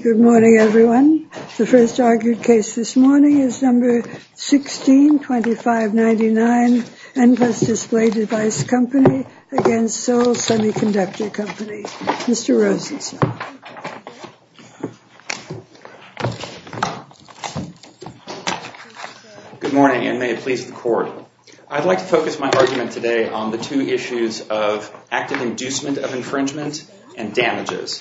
Good morning, everyone. The first argued case this morning is number 162599, Enplas Display Device Company against Seoul Semiconductor Company. Mr. Rosenstock. Good morning, and may it please the court. I'd like to focus my argument today on the two issues of active inducement of infringement and damages.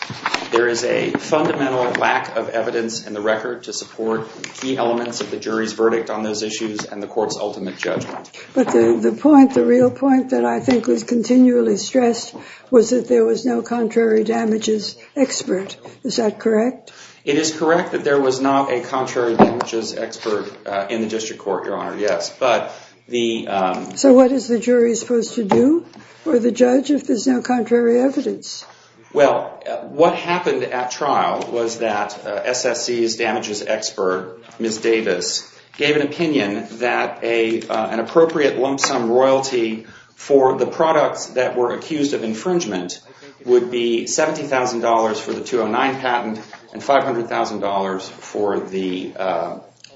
There is a fundamental lack of evidence in the record to support key elements of the jury's verdict on those issues and the court's ultimate judgment. But the point, the real point that I think was continually stressed was that there was no contrary damages expert. Is that correct? It is correct that there was not a contrary damages expert in the district court, Your Honor, yes. So what is the jury supposed to do or the judge if there's no contrary evidence? Well, what happened at trial was that SSC's damages expert, Ms. Davis, gave an opinion that an appropriate lump sum royalty for the products that were accused of infringement would be $70,000 for the 209 patent and $500,000 for the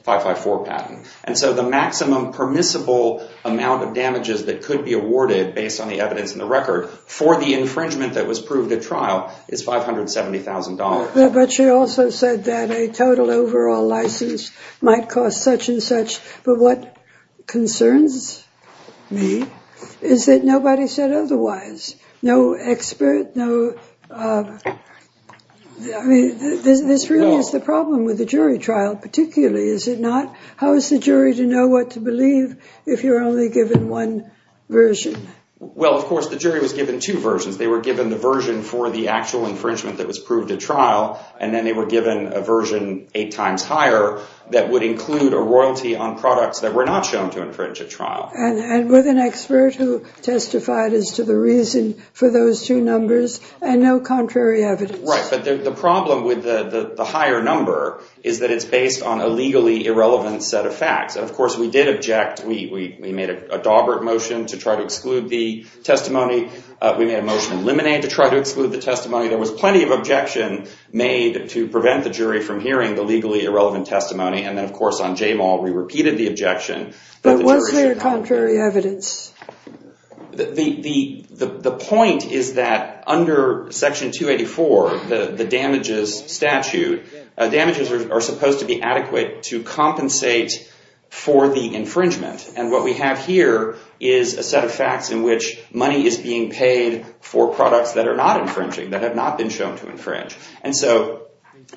554 patent. And so the maximum permissible amount of damages that could be awarded based on the evidence in the record for the infringement that was proved at trial is $570,000. But she also said that a total overall license might cost such and such. But what concerns me is that nobody said otherwise. No expert. No. I mean, this really is the problem with the jury trial, particularly, is it not? How is the jury to know what to believe if you're only given one version? Well, of course, the jury was given two versions. They were given the version for the actual infringement that was proved at trial, and then they were given a version eight times higher that would include a royalty on products that were not shown to infringe at trial. And with an expert who testified as to the reason for those two numbers and no contrary evidence. Right. But the problem with the higher number is that it's based on a legally irrelevant set of facts. Of course, we did object. We made a Dawbert motion to try to exclude the testimony. We made a motion in Lemonade to try to exclude the testimony. There was plenty of objection made to prevent the jury from hearing the legally irrelevant testimony. And then, of course, on Jamal, we repeated the objection. But was there contrary evidence? The point is that under Section 284, the damages statute, damages are supposed to be adequate to compensate for the infringement. And what we have here is a set of facts in which money is being paid for products that are not infringing, that have not been shown to infringe. And so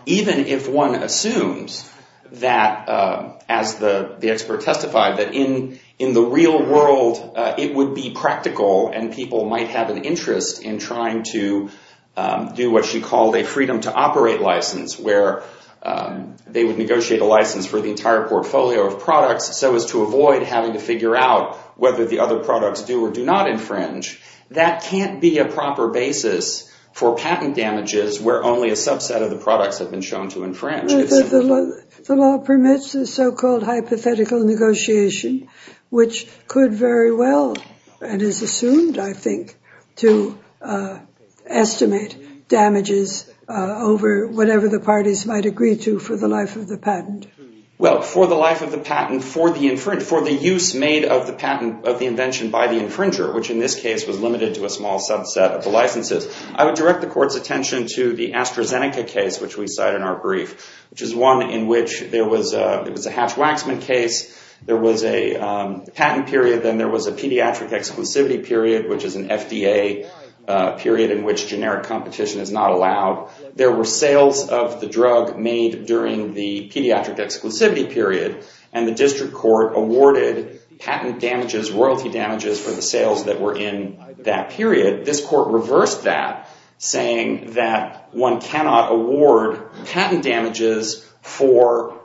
even if one assumes that, as the expert testified, that in the real world, it would be practical and people might have an interest in trying to do what she called a freedom to operate license, where they would negotiate a license for the entire portfolio of products so as to avoid having to figure out whether the other products do or do not infringe. That can't be a proper basis for patent damages where only a subset of the products have been shown to infringe. The law permits the so-called hypothetical negotiation, which could very well and is assumed, I think, to estimate damages over whatever the parties might agree to for the life of the patent. Well, for the life of the patent, for the use made of the patent of the invention by the infringer, which in this case was limited to a small subset of the licenses. I would direct the court's attention to the AstraZeneca case, which we cite in our brief, which is one in which there was a Hatch-Waxman case. There was a patent period. Then there was a pediatric exclusivity period, which is an FDA period in which generic competition is not allowed. There were sales of the drug made during the pediatric exclusivity period, and the district court awarded patent damages, royalty damages for the sales that were in that period. This court reversed that, saying that one cannot award patent damages for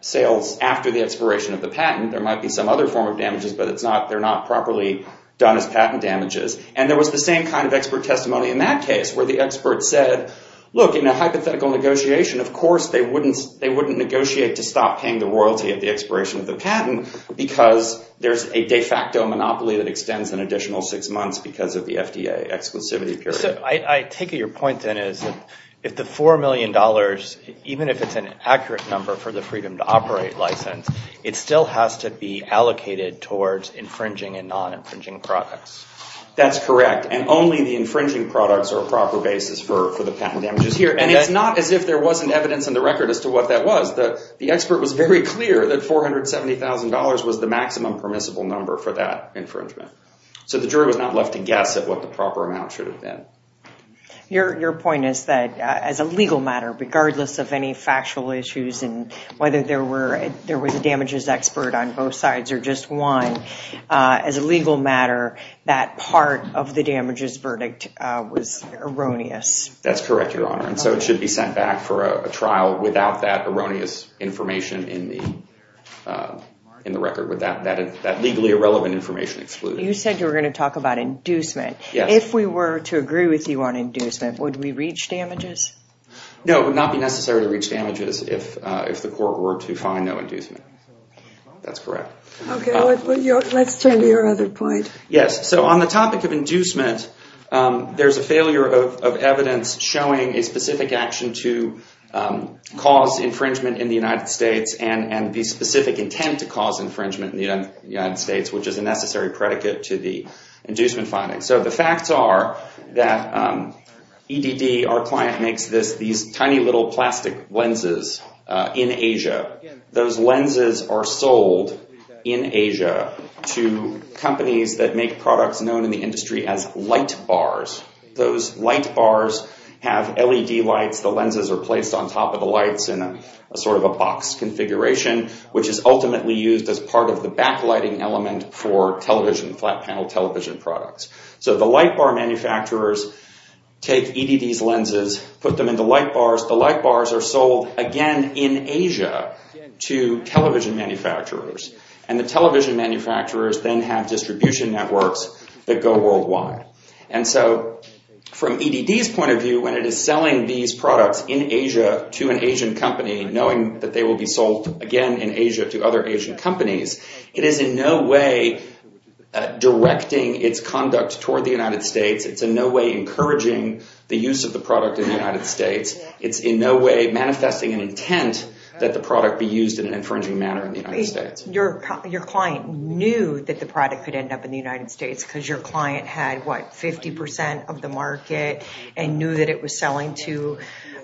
sales after the expiration of the patent. There might be some other form of damages, but they're not properly done as patent damages. There was the same kind of expert testimony in that case, where the expert said, look, in a hypothetical negotiation, of course, they wouldn't negotiate to stop paying the royalty at the expiration of the patent, because there's a de facto monopoly that extends an additional six months because of the FDA exclusivity period. I take it your point, then, is that if the $4 million, even if it's an accurate number for the freedom to operate license, it still has to be allocated towards infringing and non-infringing products. That's correct, and only the infringing products are a proper basis for the patent damages here. It's not as if there wasn't evidence in the record as to what that was. The expert was very clear that $470,000 was the maximum permissible number for that infringement. So the jury was not left to guess at what the proper amount should have been. Your point is that, as a legal matter, regardless of any factual issues and whether there was a damages expert on both sides or just one, as a legal matter, that part of the damages verdict was erroneous. That's correct, Your Honor, and so it should be sent back for a trial without that erroneous information in the record. Without that legally irrelevant information excluded. You said you were going to talk about inducement. If we were to agree with you on inducement, would we reach damages? No, it would not be necessary to reach damages if the court were to find no inducement. That's correct. Let's turn to your other point. Yes, so on the topic of inducement, there's a failure of evidence showing a specific action to cause infringement in the United States and the specific intent to cause infringement in the United States, which is a necessary predicate to the inducement finding. So the facts are that EDD, our client, makes these tiny little plastic lenses in Asia. Those lenses are sold in Asia to companies that make products known in the industry as light bars. Those light bars have LED lights. The lenses are placed on top of the lights in a sort of a box configuration, which is ultimately used as part of the backlighting element for television, flat panel television products. So the light bar manufacturers take EDD's lenses, put them into light bars. The light bars are sold again in Asia to television manufacturers, and the television manufacturers then have distribution networks that go worldwide. And so from EDD's point of view, when it is selling these products in Asia to an Asian company, knowing that they will be sold again in Asia to other Asian companies, it is in no way directing its conduct toward the United States. It's in no way encouraging the use of the product in the United States. It's in no way manifesting an intent that the product be used in an infringing manner in the United States. Your client knew that the product could end up in the United States because your client had, what, 50% of the market and knew that it was selling to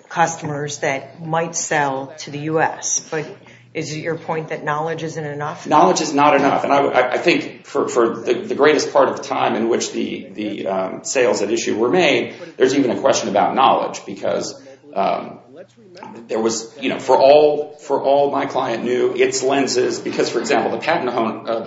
customers that might sell to the U.S.? But is it your point that knowledge isn't enough? Knowledge is not enough. And I think for the greatest part of the time in which the sales at issue were made, there's even a question about knowledge because there was, you know, for all my client knew, its lenses, because, for example, the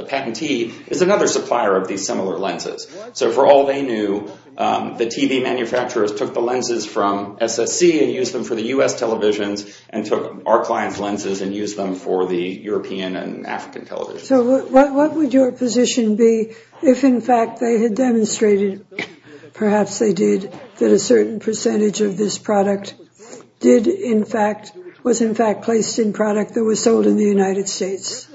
patentee is another supplier of these similar lenses. So for all they knew, the TV manufacturers took the lenses from SSC and used them for the U.S. televisions and took our client's lenses and used them for the European and African televisions. So what would your position be if, in fact, they had demonstrated, perhaps they did, that a certain percentage of this product did, in fact, was, in fact, placed in product that was sold in the United States?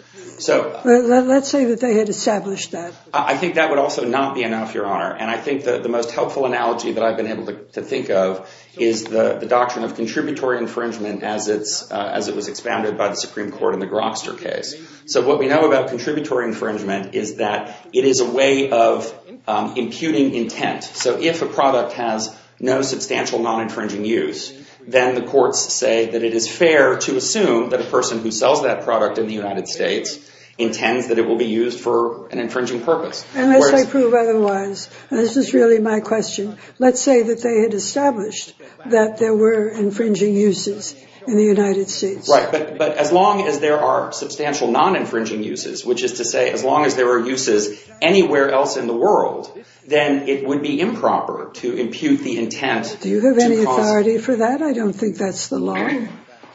Let's say that they had established that. I think that would also not be enough, Your Honor. And I think the most helpful analogy that I've been able to think of is the doctrine of contributory infringement as it was expounded by the Supreme Court in the Grobster case. So what we know about contributory infringement is that it is a way of imputing intent. So if a product has no substantial non-infringing use, then the courts say that it is fair to assume that a person who sells that product in the United States intends that it will be used for an infringing purpose. Unless they prove otherwise. This is really my question. Let's say that they had established that there were infringing uses in the United States. Right, but as long as there are substantial non-infringing uses, which is to say as long as there are uses anywhere else in the world, then it would be improper to impute the intent. Do you have any authority for that? I don't think that's the law.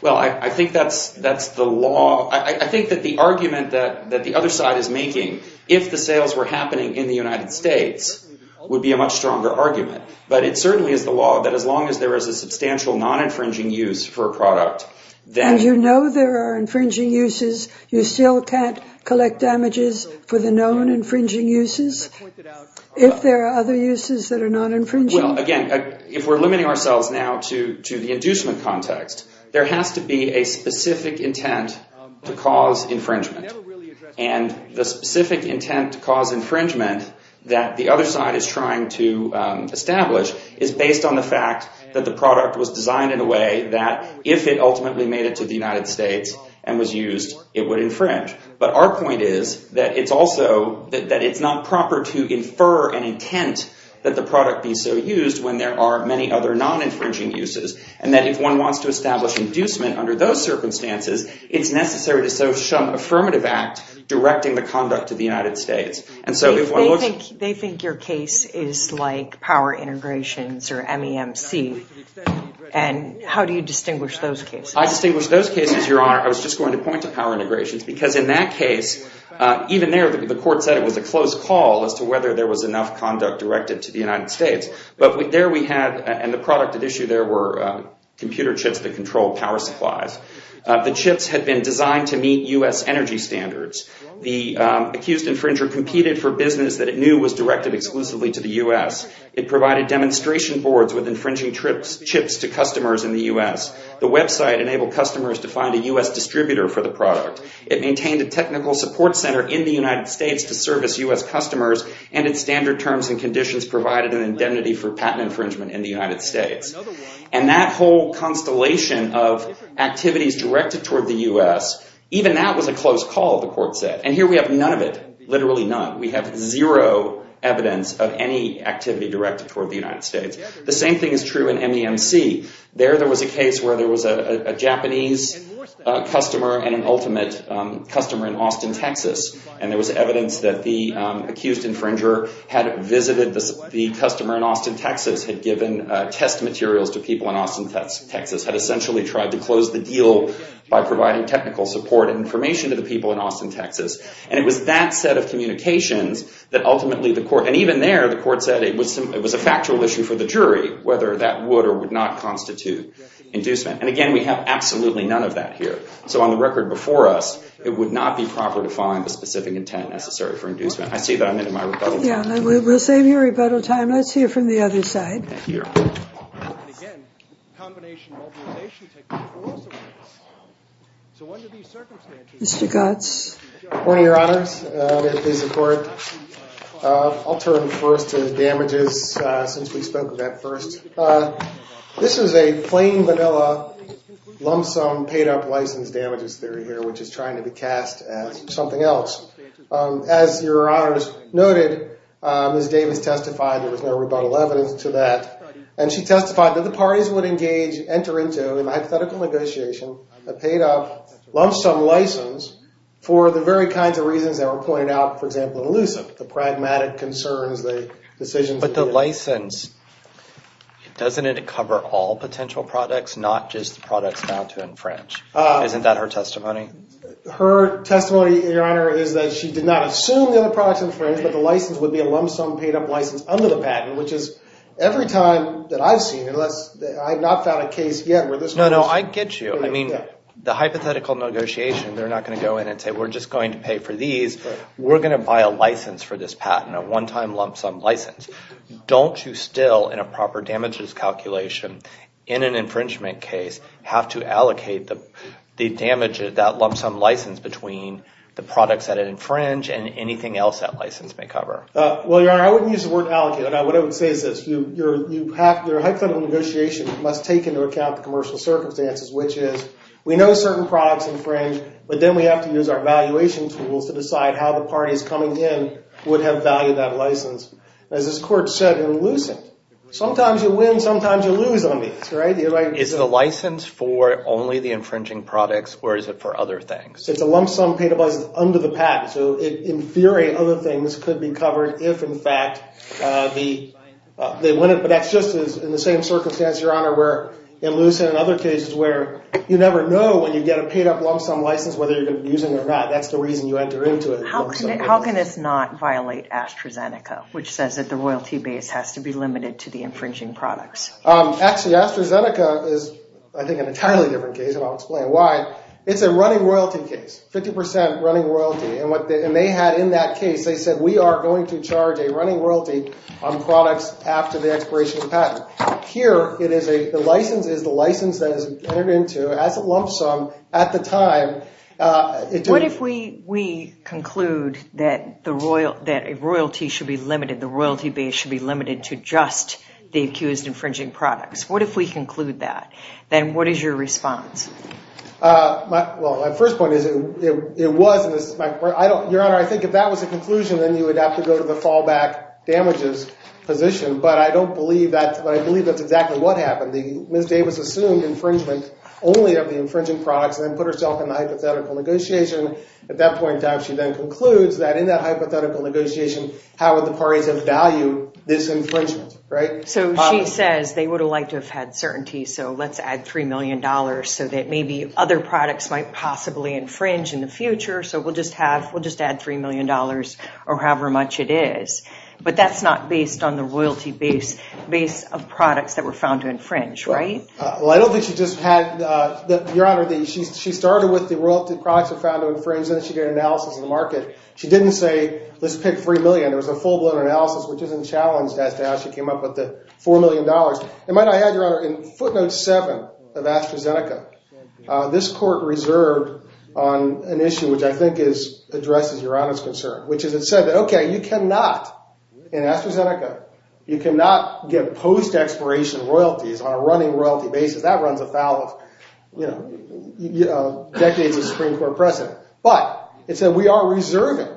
Well, I think that's the law. I think that the argument that the other side is making, if the sales were happening in the United States, would be a much stronger argument. But it certainly is the law that as long as there is a substantial non-infringing use for a product, then... And you know there are infringing uses, you still can't collect damages for the known infringing uses? If there are other uses that are non-infringing? Well, again, if we're limiting ourselves now to the inducement context, there has to be a specific intent to cause infringement. And the specific intent to cause infringement that the other side is trying to establish is based on the fact that the product was designed in a way that if it ultimately made it to the United States and was used, it would infringe. But our point is that it's also that it's not proper to infer an intent that the product be so used when there are many other non-infringing uses. And that if one wants to establish inducement under those circumstances, it's necessary to show some affirmative act directing the conduct to the United States. And so if one looks... They think your case is like power integrations or MEMC. And how do you distinguish those cases? I distinguish those cases, Your Honor. I was just going to point to power integrations because in that case, even there, the court said it was a close call as to whether there was enough conduct directed to the United States. But there we had... And the product at issue there were computer chips that controlled power supplies. The chips had been designed to meet U.S. energy standards. The accused infringer competed for business that it knew was directed exclusively to the U.S. It provided demonstration boards with infringing chips to customers in the U.S. The website enabled customers to find a U.S. distributor for the product. It maintained a technical support center in the United States to service U.S. customers. And its standard terms and conditions provided an indemnity for patent infringement in the United States. And that whole constellation of activities directed toward the U.S., even that was a close call, the court said. And here we have none of it, literally none. We have zero evidence of any activity directed toward the United States. The same thing is true in MEMC. There there was a case where there was a Japanese customer and an ultimate customer in Austin, Texas. And there was evidence that the accused infringer had visited the customer in Austin, Texas, had given test materials to people in Austin, Texas, had essentially tried to close the deal by providing technical support and information to the people in Austin, Texas. And it was that set of communications that ultimately the court... And again, we have absolutely none of that here. So on the record before us, it would not be proper to find a specific intent necessary for inducement. I see that I'm in my rebuttal time. Yeah, we'll save your rebuttal time. Let's hear from the other side. Thank you. Mr. Gatz. Good morning, Your Honors. I'll turn first to damages since we spoke of that first. This is a plain, vanilla, lump-sum, paid-up license damages theory here, which is trying to be cast as something else. As Your Honors noted, Ms. Davis testified there was no rebuttal evidence to that. And she testified that the parties would engage, enter into, in hypothetical negotiation, a paid-up, lump-sum license for the very kinds of reasons that were pointed out, for example, in Lucid, the pragmatic concerns, the decisions... Doesn't it cover all potential products, not just the products found to infringe? Isn't that her testimony? Her testimony, Your Honor, is that she did not assume the other products infringed, but the license would be a lump-sum, paid-up license under the patent, which is every time that I've seen, unless I've not found a case yet where this was... No, no, I get you. I mean, the hypothetical negotiation, they're not going to go in and say, we're just going to pay for these. We're going to buy a license for this patent, a one-time lump-sum license. Don't you still, in a proper damages calculation, in an infringement case, have to allocate the damage of that lump-sum license between the products that it infringed and anything else that license may cover? Well, Your Honor, I wouldn't use the word allocate. What I would say is this. Your hypothetical negotiation must take into account the commercial circumstances, which is we know certain products infringe, but then we have to use our valuation tools to decide how the parties coming in would have valued that license. As this court said in Lucent, sometimes you win, sometimes you lose on these, right? Is the license for only the infringing products, or is it for other things? It's a lump-sum, paid-up license under the patent. So in theory, other things could be covered if, in fact, they win it. But that's just in the same circumstance, Your Honor, where in Lucent and other cases where you never know when you get a paid-up, lump-sum license whether you're going to be using it or not. That's the reason you enter into it. How can this not violate AstraZeneca, which says that the royalty base has to be limited to the infringing products? Actually, AstraZeneca is, I think, an entirely different case, and I'll explain why. It's a running royalty case, 50 percent running royalty. And they had in that case, they said, we are going to charge a running royalty on products after the expiration of the patent. Here, the license is the license that is entered into as a lump-sum at the time. What if we conclude that a royalty should be limited, the royalty base should be limited to just the accused infringing products? What if we conclude that? Then what is your response? Well, my first point is it was. Your Honor, I think if that was the conclusion, then you would have to go to the fallback damages position. But I don't believe that. But I believe that's exactly what happened. Ms. Davis assumed infringement only of the infringing products and then put herself in the hypothetical negotiation. At that point in time, she then concludes that in that hypothetical negotiation, how would the parties have valued this infringement, right? So she says they would have liked to have had certainty, so let's add $3 million so that maybe other products might possibly infringe in the future, so we'll just add $3 million or however much it is. But that's not based on the royalty base of products that were found to infringe, right? Well, I don't think she just had the – Your Honor, she started with the royalty products that were found to infringe and then she did an analysis of the market. She didn't say, let's pick $3 million. It was a full-blown analysis, which isn't challenged as to how she came up with the $4 million. And what I had, Your Honor, in footnote 7 of AstraZeneca, this court reserved on an issue which I think addresses Your Honor's concern, which is it said that, okay, you cannot in AstraZeneca, you cannot get post-expiration royalties on a running royalty basis. That runs afoul of decades of Supreme Court precedent. But it said we are reserving,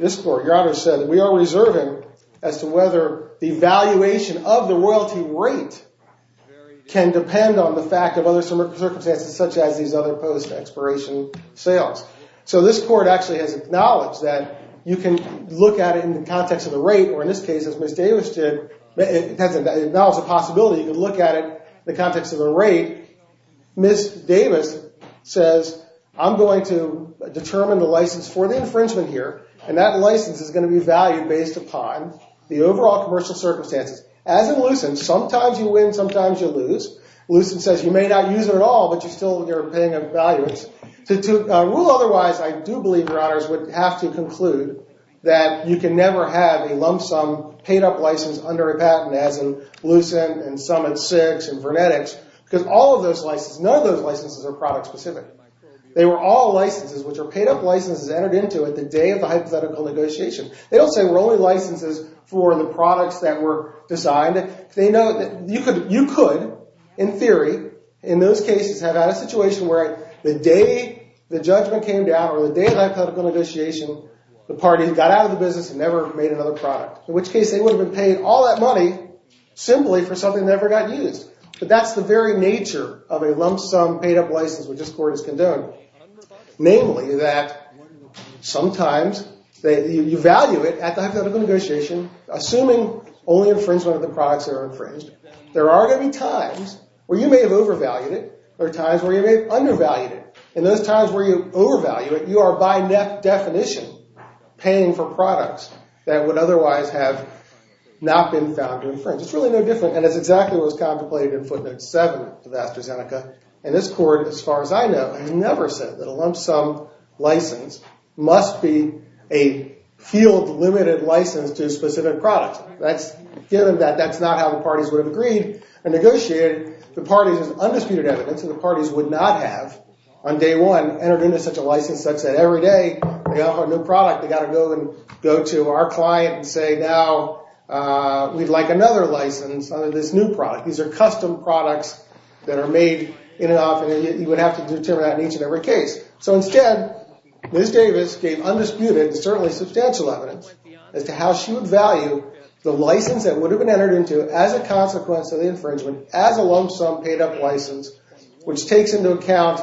this court, Your Honor, said that we are reserving as to whether the valuation of the royalty rate can depend on the fact of other circumstances such as these other post-expiration sales. So this court actually has acknowledged that you can look at it in the context of the rate or in this case, as Ms. Davis did, it has acknowledged the possibility you can look at it in the context of a rate. Ms. Davis says, I'm going to determine the license for the infringement here and that license is going to be valued based upon the overall commercial circumstances. As in Lucent, sometimes you win, sometimes you lose. Lucent says you may not use it at all, but you're still paying a value. To rule otherwise, I do believe, Your Honors, would have to conclude that you can never have a lump sum paid-up license under a patent, as in Lucent and Summit 6 and Vernetics, because all of those licenses, none of those licenses are product-specific. They were all licenses which are paid-up licenses entered into at the day of the hypothetical negotiation. They don't say we're only licenses for the products that were designed. They know that you could, in theory, in those cases, have had a situation where the day the judgment came down or the day of the hypothetical negotiation, the party got out of the business and never made another product, in which case they would have been paying all that money simply for something that never got used. But that's the very nature of a lump sum paid-up license, which this Court has condoned, namely that sometimes you value it at the hypothetical negotiation, assuming only infringement of the products that are infringed. There are going to be times where you may have overvalued it. There are times where you may have undervalued it. In those times where you overvalue it, you are, by definition, paying for products that would otherwise have not been found to infringe. It's really no different, and it's exactly what was contemplated in Footnote 7 of AstraZeneca. And this Court, as far as I know, has never said that a lump sum license must be a field-limited license to specific products. Given that that's not how the parties would have agreed and negotiated, the parties have undisputed evidence, and the parties would not have, on day one, entered into such a license such that every day they offer a new product, they've got to go to our client and say, now we'd like another license under this new product. These are custom products that are made in and of, and you would have to determine that in each and every case. So instead, Ms. Davis gave undisputed and certainly substantial evidence as to how she would value the license that would have been entered into as a consequence of the infringement as a lump sum paid-up license, which takes into account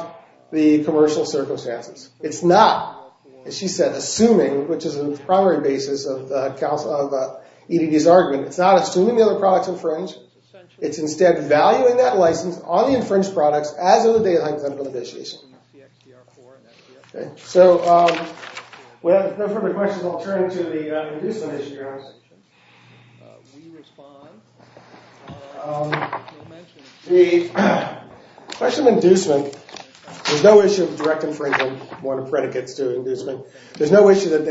the commercial circumstances. It's not, as she said, assuming, which is the primary basis of EDD's argument, it's not assuming the other products infringe, it's instead valuing that license on the infringed products as of the day of hypothetical negotiation. Okay, so we have no further questions. I'll turn to the inducement issue now. The question of inducement, there's no issue of direct infringement, one of the predicates to inducement, there's no issue that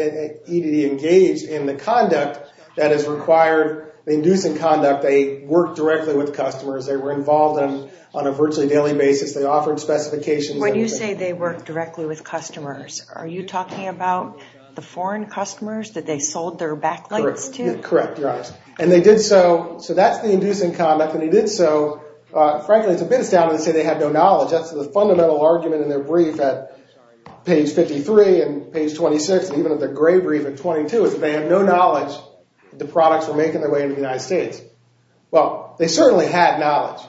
EDD engaged in the conduct that is required, the inducing conduct, they work directly with customers, they were involved on a virtually daily basis, they offered specifications. When you say they work directly with customers, are you talking about the foreign customers that they sold their backlights to? Correct, correct, Your Honor. And they did so, so that's the inducing conduct, and they did so, frankly, it's a bit astounding to say they had no knowledge, that's the fundamental argument in their brief at page 53 and page 26, and even in their gray brief at 22, is that they had no knowledge that the products were making their way into the United States. Well, they certainly had knowledge,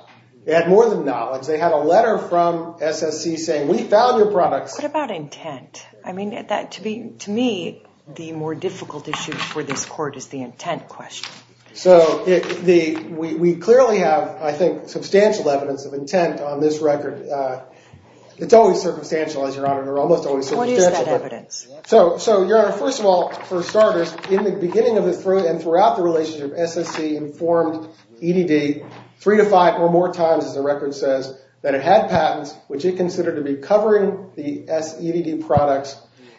they had more than knowledge, they had a letter from SSC saying, we found your products. What about intent? I mean, to me, the more difficult issue for this court is the intent question. So we clearly have, I think, substantial evidence of intent on this record. It's always circumstantial, as Your Honor, they're almost always circumstantial. What is that evidence? So, Your Honor, first of all, for starters, in the beginning and throughout the relationship, SSC informed EDD three to five or more times, as the record says, that it had patents, which it considered to be covering the SEDD products,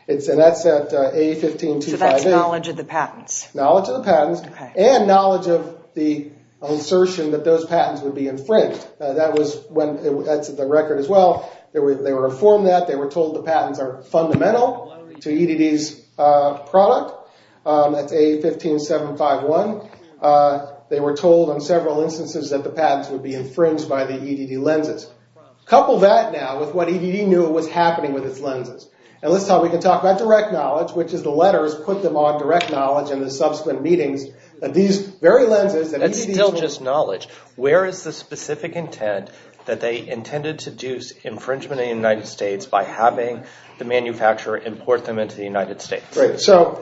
and that's at A15258. So that's knowledge of the patents. Knowledge of the patents and knowledge of the assertion that those patents would be infringed. That's the record as well. They were informed of that. They were told the patents are fundamental to EDD's product. That's A15751. They were told in several instances that the patents would be infringed by the EDD lenses. Couple that now with what EDD knew was happening with its lenses. And this is how we can talk about direct knowledge, which is the letters put them on direct knowledge in the subsequent meetings, that these very lenses that EDD is holding. That's still just knowledge. Where is the specific intent that they intended to do infringement in the United States by having the manufacturer import them into the United States? The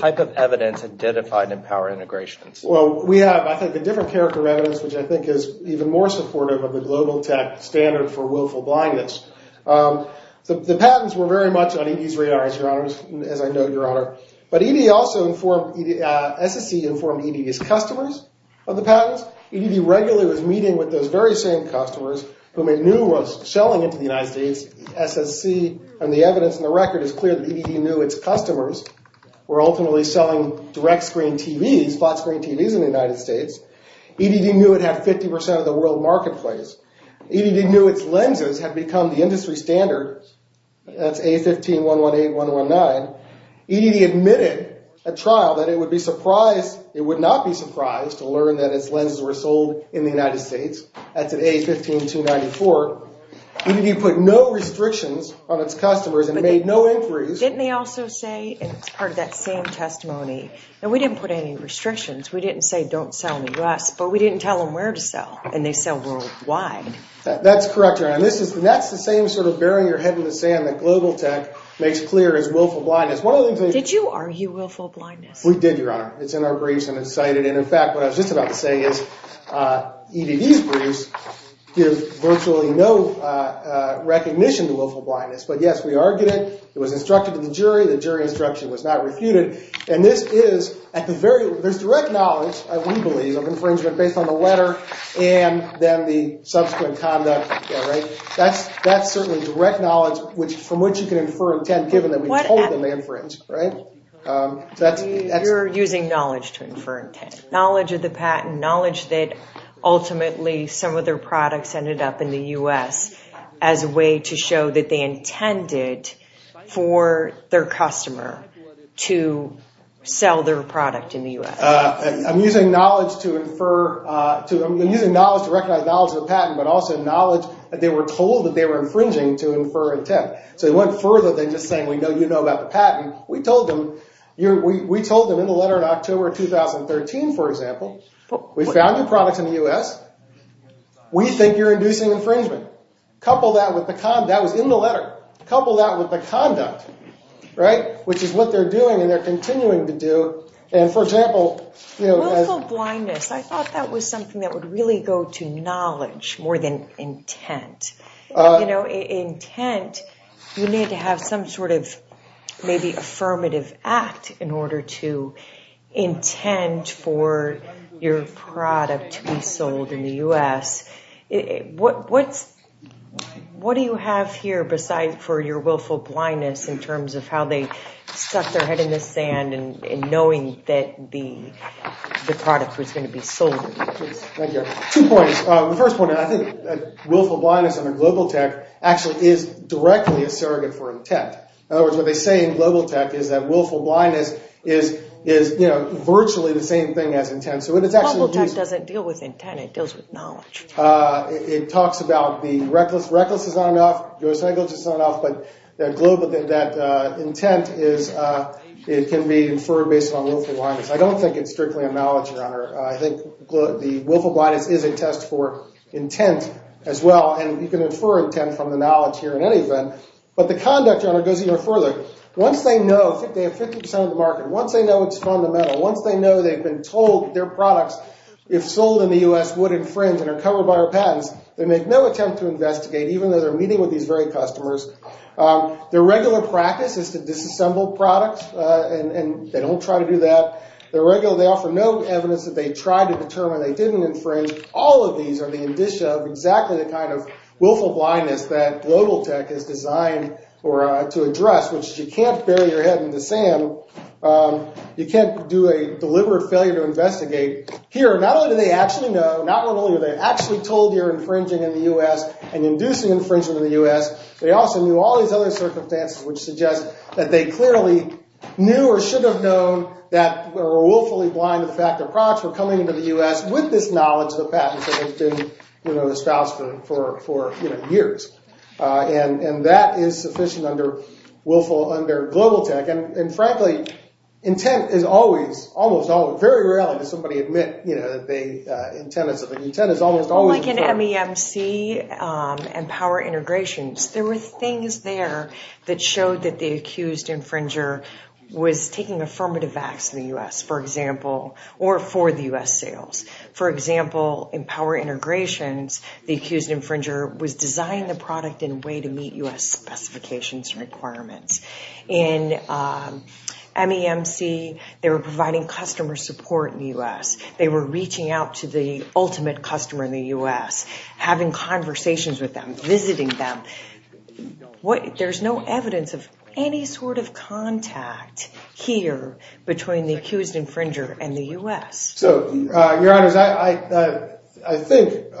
type of evidence identified in power integrations. Well, we have, I think, a different character of evidence, which I think is even more supportive of the global tech standard for willful blindness. The patents were very much on EDD's radar, as I know, Your Honor. But SSE informed EDD's customers of the patents. EDD regularly was meeting with those very same customers whom it knew was shelling into the United States. And the evidence in the record is clear that EDD knew its customers were ultimately selling direct screen TVs, flat screen TVs in the United States. EDD knew it had 50% of the world marketplace. EDD knew its lenses had become the industry standard. That's A15118119. EDD admitted at trial that it would be surprised, it would not be surprised to learn that its lenses were sold in the United States. That's at A15294. EDD put no restrictions on its customers and made no inquiries. Didn't they also say, and it's part of that same testimony, that we didn't put any restrictions. We didn't say don't sell in the U.S., but we didn't tell them where to sell. And they sell worldwide. That's correct, Your Honor. And that's the same sort of burying your head in the sand that global tech makes clear as willful blindness. Did you argue willful blindness? We did, Your Honor. It's in our briefs and it's cited. And in fact, what I was just about to say is EDD's briefs give virtually no recognition to willful blindness. But, yes, we argued it. It was instructed to the jury. The jury instruction was not refuted. And this is at the very – there's direct knowledge, we believe, of infringement based on the letter and then the subsequent conduct. That's certainly direct knowledge from which you can infer intent given that we told them they infringed. You're using knowledge to infer intent, knowledge of the patent, knowledge that ultimately some of their products ended up in the U.S. as a way to show that they intended for their customer to sell their product in the U.S. I'm using knowledge to infer – I'm using knowledge to recognize knowledge of the patent but also knowledge that they were told that they were infringing to infer intent. So it went further than just saying we know you know about the patent. We told them – we told them in the letter in October 2013, for example, we found your products in the U.S., we think you're inducing infringement. Couple that with the – that was in the letter. Couple that with the conduct, right, which is what they're doing and they're continuing to do. And, for example, you know – Willful blindness, I thought that was something that would really go to knowledge more than intent. You know, intent, you need to have some sort of maybe affirmative act in order to intend for your product to be sold in the U.S. What's – what do you have here besides for your willful blindness in terms of how they stuck their head in the sand in knowing that the product was going to be sold? Thank you. Two points. The first point, and I think willful blindness under global tech actually is directly a surrogate for intent. In other words, what they say in global tech is that willful blindness is, you know, virtually the same thing as intent. Global tech doesn't deal with intent. It deals with knowledge. It talks about the reckless. Reckless is not enough. Your psychological is not enough. But that global – that intent is – it can be inferred based on willful blindness. I don't think it's strictly a knowledge, Your Honor. I think the willful blindness is a test for intent as well, and you can infer intent from the knowledge here in any event. But the conduct, Your Honor, goes even further. Once they know – they have 50 percent of the market. Once they know it's fundamental, once they know they've been told their products, if sold in the U.S., would infringe and are covered by our patents, they make no attempt to investigate, even though they're meeting with these very customers. Their regular practice is to disassemble products, and they don't try to do that. Their regular – they offer no evidence that they tried to determine they didn't infringe. All of these are the indicia of exactly the kind of willful blindness that global tech is designed to address, which you can't bury your head in the sand. You can't do a deliberate failure to investigate. Here, not only do they actually know – not only are they actually told you're infringing in the U.S. and inducing infringement in the U.S., they also knew all these other circumstances, which suggests that they clearly knew or should have known that we're willfully blind to the fact that products were coming into the U.S. with this knowledge of the patents that have been espoused for years. And that is sufficient under global tech. And frankly, intent is always – almost always – very rarely does somebody admit that they intend something. Intent is almost always – Well, like in MEMC and power integrations, there were things there that showed that the accused infringer was taking affirmative acts in the U.S., for example, or for the U.S. sales. For example, in power integrations, the accused infringer was designing the product in a way to meet U.S. specifications and requirements. In MEMC, they were providing customer support in the U.S. They were reaching out to the ultimate customer in the U.S., having conversations with them, visiting them. There's no evidence of any sort of contact here between the accused infringer and the U.S. So, Your Honors, I think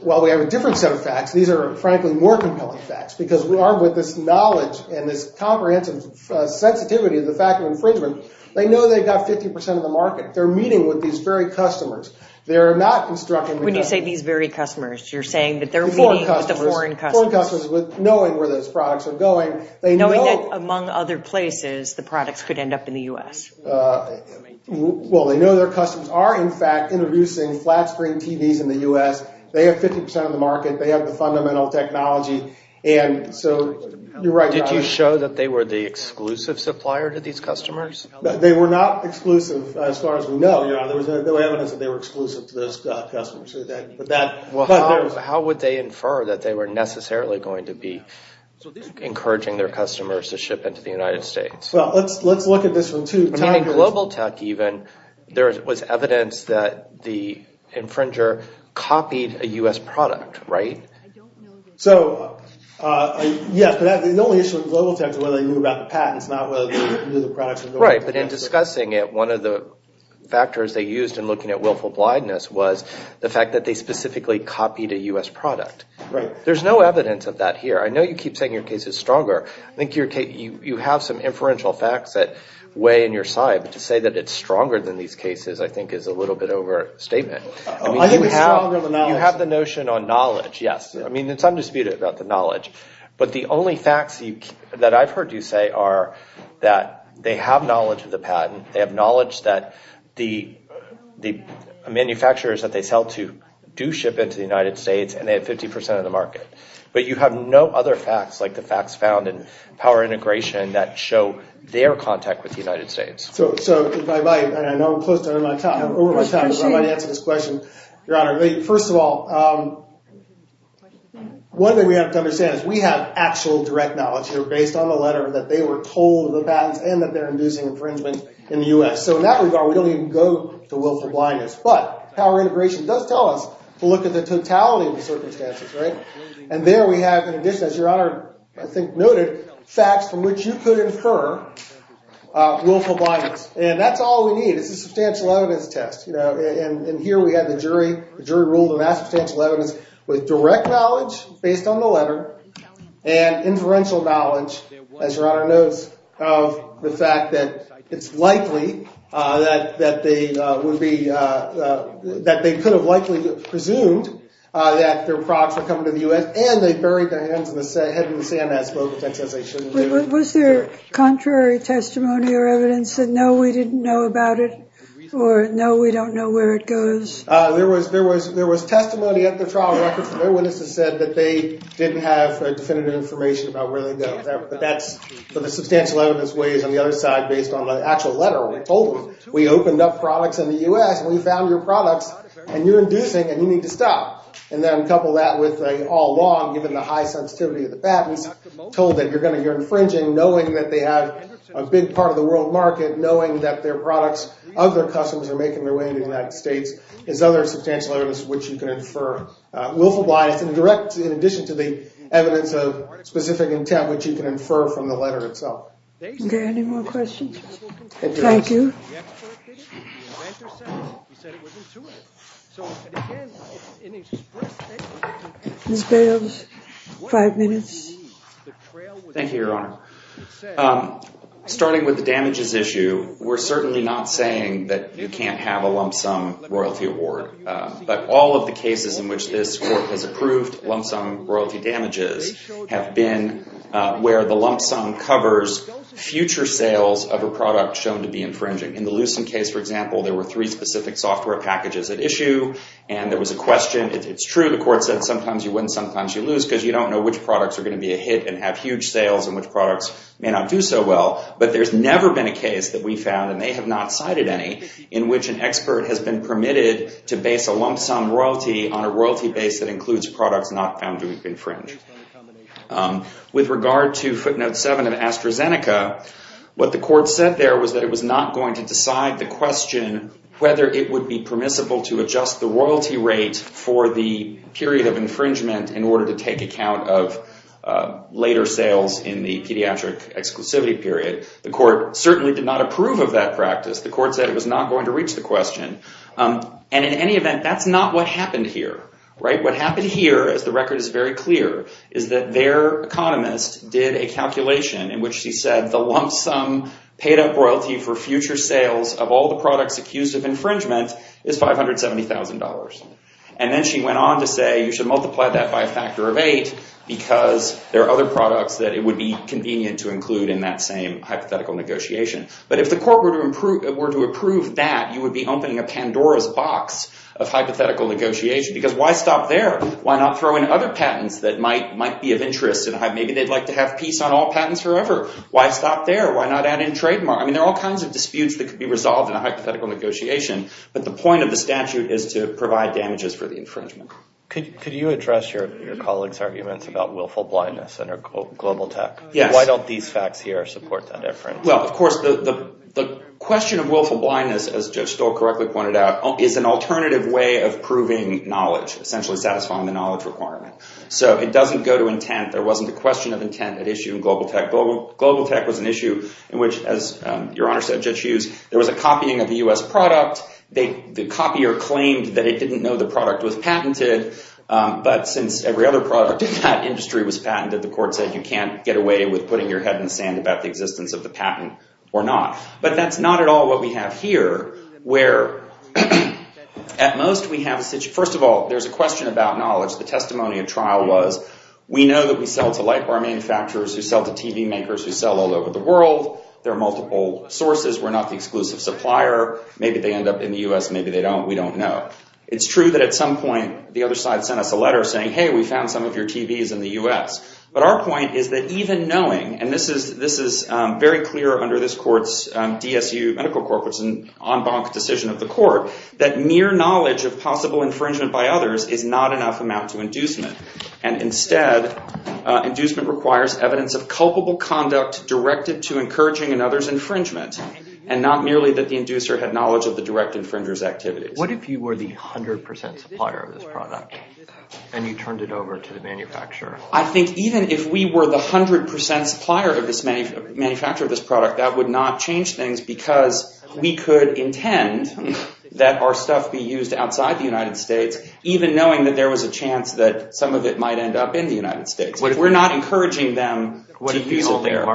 while we have a different set of facts, these are, frankly, more compelling facts because we are with this knowledge and this comprehensive sensitivity to the fact of infringement. They know they've got 50% of the market. They're meeting with these very customers. When you say these very customers, you're saying that they're meeting with the foreign customers. Foreign customers, knowing where those products are going. Knowing that, among other places, the products could end up in the U.S. Well, they know their customers are, in fact, introducing flat-screen TVs in the U.S. They have 50% of the market. They have the fundamental technology, and so you're right. Did you show that they were the exclusive supplier to these customers? They were not exclusive as far as we know, Your Honor. There was no evidence that they were exclusive to those customers. Well, how would they infer that they were necessarily going to be encouraging their customers to ship into the United States? Well, let's look at this from two angles. In global tech, even, there was evidence that the infringer copied a U.S. product, right? So, yes, but the only issue in global tech is whether they knew about the patents, not whether they knew the products were going to the U.S. Right, but in discussing it, one of the factors they used in looking at willful blindness was the fact that they specifically copied a U.S. product. Right. There's no evidence of that here. I know you keep saying your case is stronger. I think you have some inferential facts that weigh on your side, but to say that it's stronger than these cases, I think, is a little bit of an overstatement. I think it's stronger than knowledge. You have the notion on knowledge, yes. I mean, it's undisputed about the knowledge, but the only facts that I've heard you say are that they have knowledge of the patent, they have knowledge that the manufacturers that they sell to do ship into the United States, and they have 50% of the market. But you have no other facts like the facts found in power integration that show their contact with the United States. So, if I might, and I know I'm close to over my time, but I might answer this question, Your Honor. First of all, one thing we have to understand is we have actual direct knowledge here based on the letter that they were told of the patents and that they're inducing infringement in the U.S. So, in that regard, we don't even go to willful blindness. But power integration does tell us to look at the totality of the circumstances, right? And there we have, in addition, as Your Honor, I think, noted, facts from which you could infer willful blindness. And that's all we need is a substantial evidence test. You know, and here we have the jury. The jury ruled on that substantial evidence with direct knowledge based on the letter and inferential knowledge, as Your Honor knows, of the fact that it's likely that they would be – that they could have likely presumed that their products were coming to the U.S. and they buried their heads in the sand as Bogotex says they shouldn't do. Was there contrary testimony or evidence that, no, we didn't know about it? Or, no, we don't know where it goes? There was testimony at the trial record. Their witnesses said that they didn't have definitive information about where they go. But the substantial evidence weighs on the other side based on the actual letter. We told them, we opened up products in the U.S. and we found your products and you're inducing and you need to stop. And then couple that with an all-along, given the high sensitivity of the patents, told that you're infringing knowing that they have a big part of the world market, knowing that their products of their customers are making their way into the United States, is other substantial evidence which you can infer. Willful bias in direct, in addition to the evidence of specific intent, which you can infer from the letter itself. Okay, any more questions? Thank you. Ms. Bales, five minutes. Thank you, Your Honor. Starting with the damages issue, we're certainly not saying that you can't have a lump sum royalty award. But all of the cases in which this court has approved lump sum royalty damages have been where the lump sum covers future sales of a product shown to be infringing. In the Lucent case, for example, there were three specific software packages at issue. And there was a question, it's true, the court said sometimes you win, sometimes you lose, because you don't know which products are going to be a hit and have huge sales and which products may not do so well. But there's never been a case that we found, and they have not cited any, in which an expert has been permitted to base a lump sum royalty on a royalty base that includes products not found to be infringed. With regard to footnote seven of AstraZeneca, what the court said there was that it was not going to decide the question whether it would be permissible to adjust the royalty rate for the period of infringement in order to take account of later sales in the pediatric exclusivity period. The court certainly did not approve of that practice. The court said it was not going to reach the question. And in any event, that's not what happened here. What happened here, as the record is very clear, is that their economist did a calculation in which she said the lump sum paid up royalty for future sales of all the products accused of infringement is $570,000. And then she went on to say you should multiply that by a factor of eight because there are other products that it would be convenient to include in that same hypothetical negotiation. But if the court were to approve that, you would be opening a Pandora's box of hypothetical negotiation. Because why stop there? Why not throw in other patents that might be of interest? Maybe they'd like to have peace on all patents forever. Why stop there? Why not add in trademark? I mean, there are all kinds of disputes that could be resolved in a hypothetical negotiation. But the point of the statute is to provide damages for the infringement. Could you address your colleague's arguments about willful blindness under Global Tech? Yes. Why don't these facts here support that effort? Well, of course, the question of willful blindness, as Joe Stoll correctly pointed out, is an alternative way of proving knowledge, essentially satisfying the knowledge requirement. So it doesn't go to intent. There wasn't a question of intent at issue in Global Tech. Global Tech was an issue in which, as Your Honor said, Judge Hughes, there was a copying of the U.S. product. The copier claimed that it didn't know the product was patented. But since every other product in that industry was patented, the court said you can't get away with putting your head in the sand about the existence of the patent or not. But that's not at all what we have here, where at most we have a situation. First of all, there's a question about knowledge. The testimony of trial was we know that we sell to light bar manufacturers who sell to TV makers who sell all over the world. There are multiple sources. We're not the exclusive supplier. Maybe they end up in the U.S. Maybe they don't. We don't know. It's true that at some point the other side sent us a letter saying, hey, we found some of your TVs in the U.S. But our point is that even knowing, and this is very clear under this court's DSU medical court, which is an en banc decision of the court, that mere knowledge of possible infringement by others is not enough amount to inducement. And instead, inducement requires evidence of culpable conduct directed to encouraging another's infringement and not merely that the inducer had knowledge of the direct infringer's activities. What if you were the 100% supplier of this product and you turned it over to the manufacturer? I think even if we were the 100% supplier of this, manufacturer of this product, that would not change things because we could intend that our stuff be used outside the United States even knowing that there was a chance that some of it might end up in the United States. We're not encouraging them to use it there.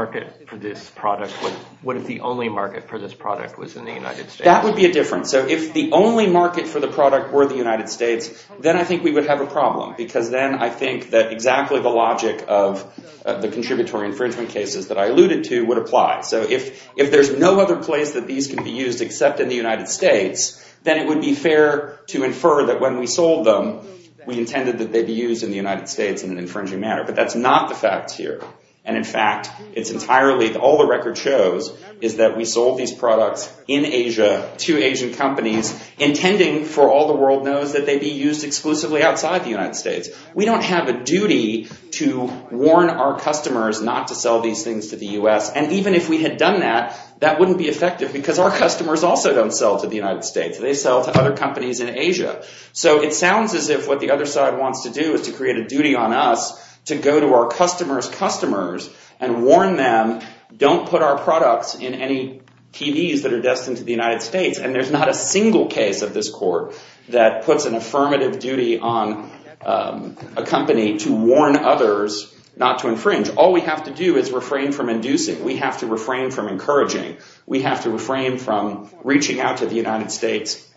What if the only market for this product was in the United States? That would be a difference. So if the only market for the product were the United States, then I think we would have a problem because then I think that exactly the logic of the contributory infringement cases that I alluded to would apply. So if there's no other place that these can be used except in the United States, then it would be fair to infer that when we sold them, we intended that they be used in the United States in an infringing manner. But that's not the fact here. And in fact, it's entirely all the record shows is that we sold these products in Asia to Asian companies intending for all the world knows that they be used exclusively outside the United States. We don't have a duty to warn our customers not to sell these things to the US. And even if we had done that, that wouldn't be effective because our customers also don't sell to the United States. They sell to other companies in Asia. So it sounds as if what the other side wants to do is to create a duty on us to go to our customers' customers and warn them, don't put our products in any TVs that are destined to the United States. And there's not a single case of this court that puts an affirmative duty on a company to warn others not to infringe. All we have to do is refrain from inducing. We have to refrain from encouraging. We have to refrain from reaching out to the United States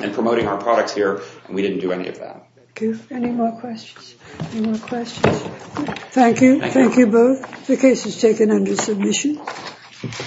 and promoting our products here. And we didn't do any of that. Any more questions? Thank you. Thank you both. The case is taken under submission.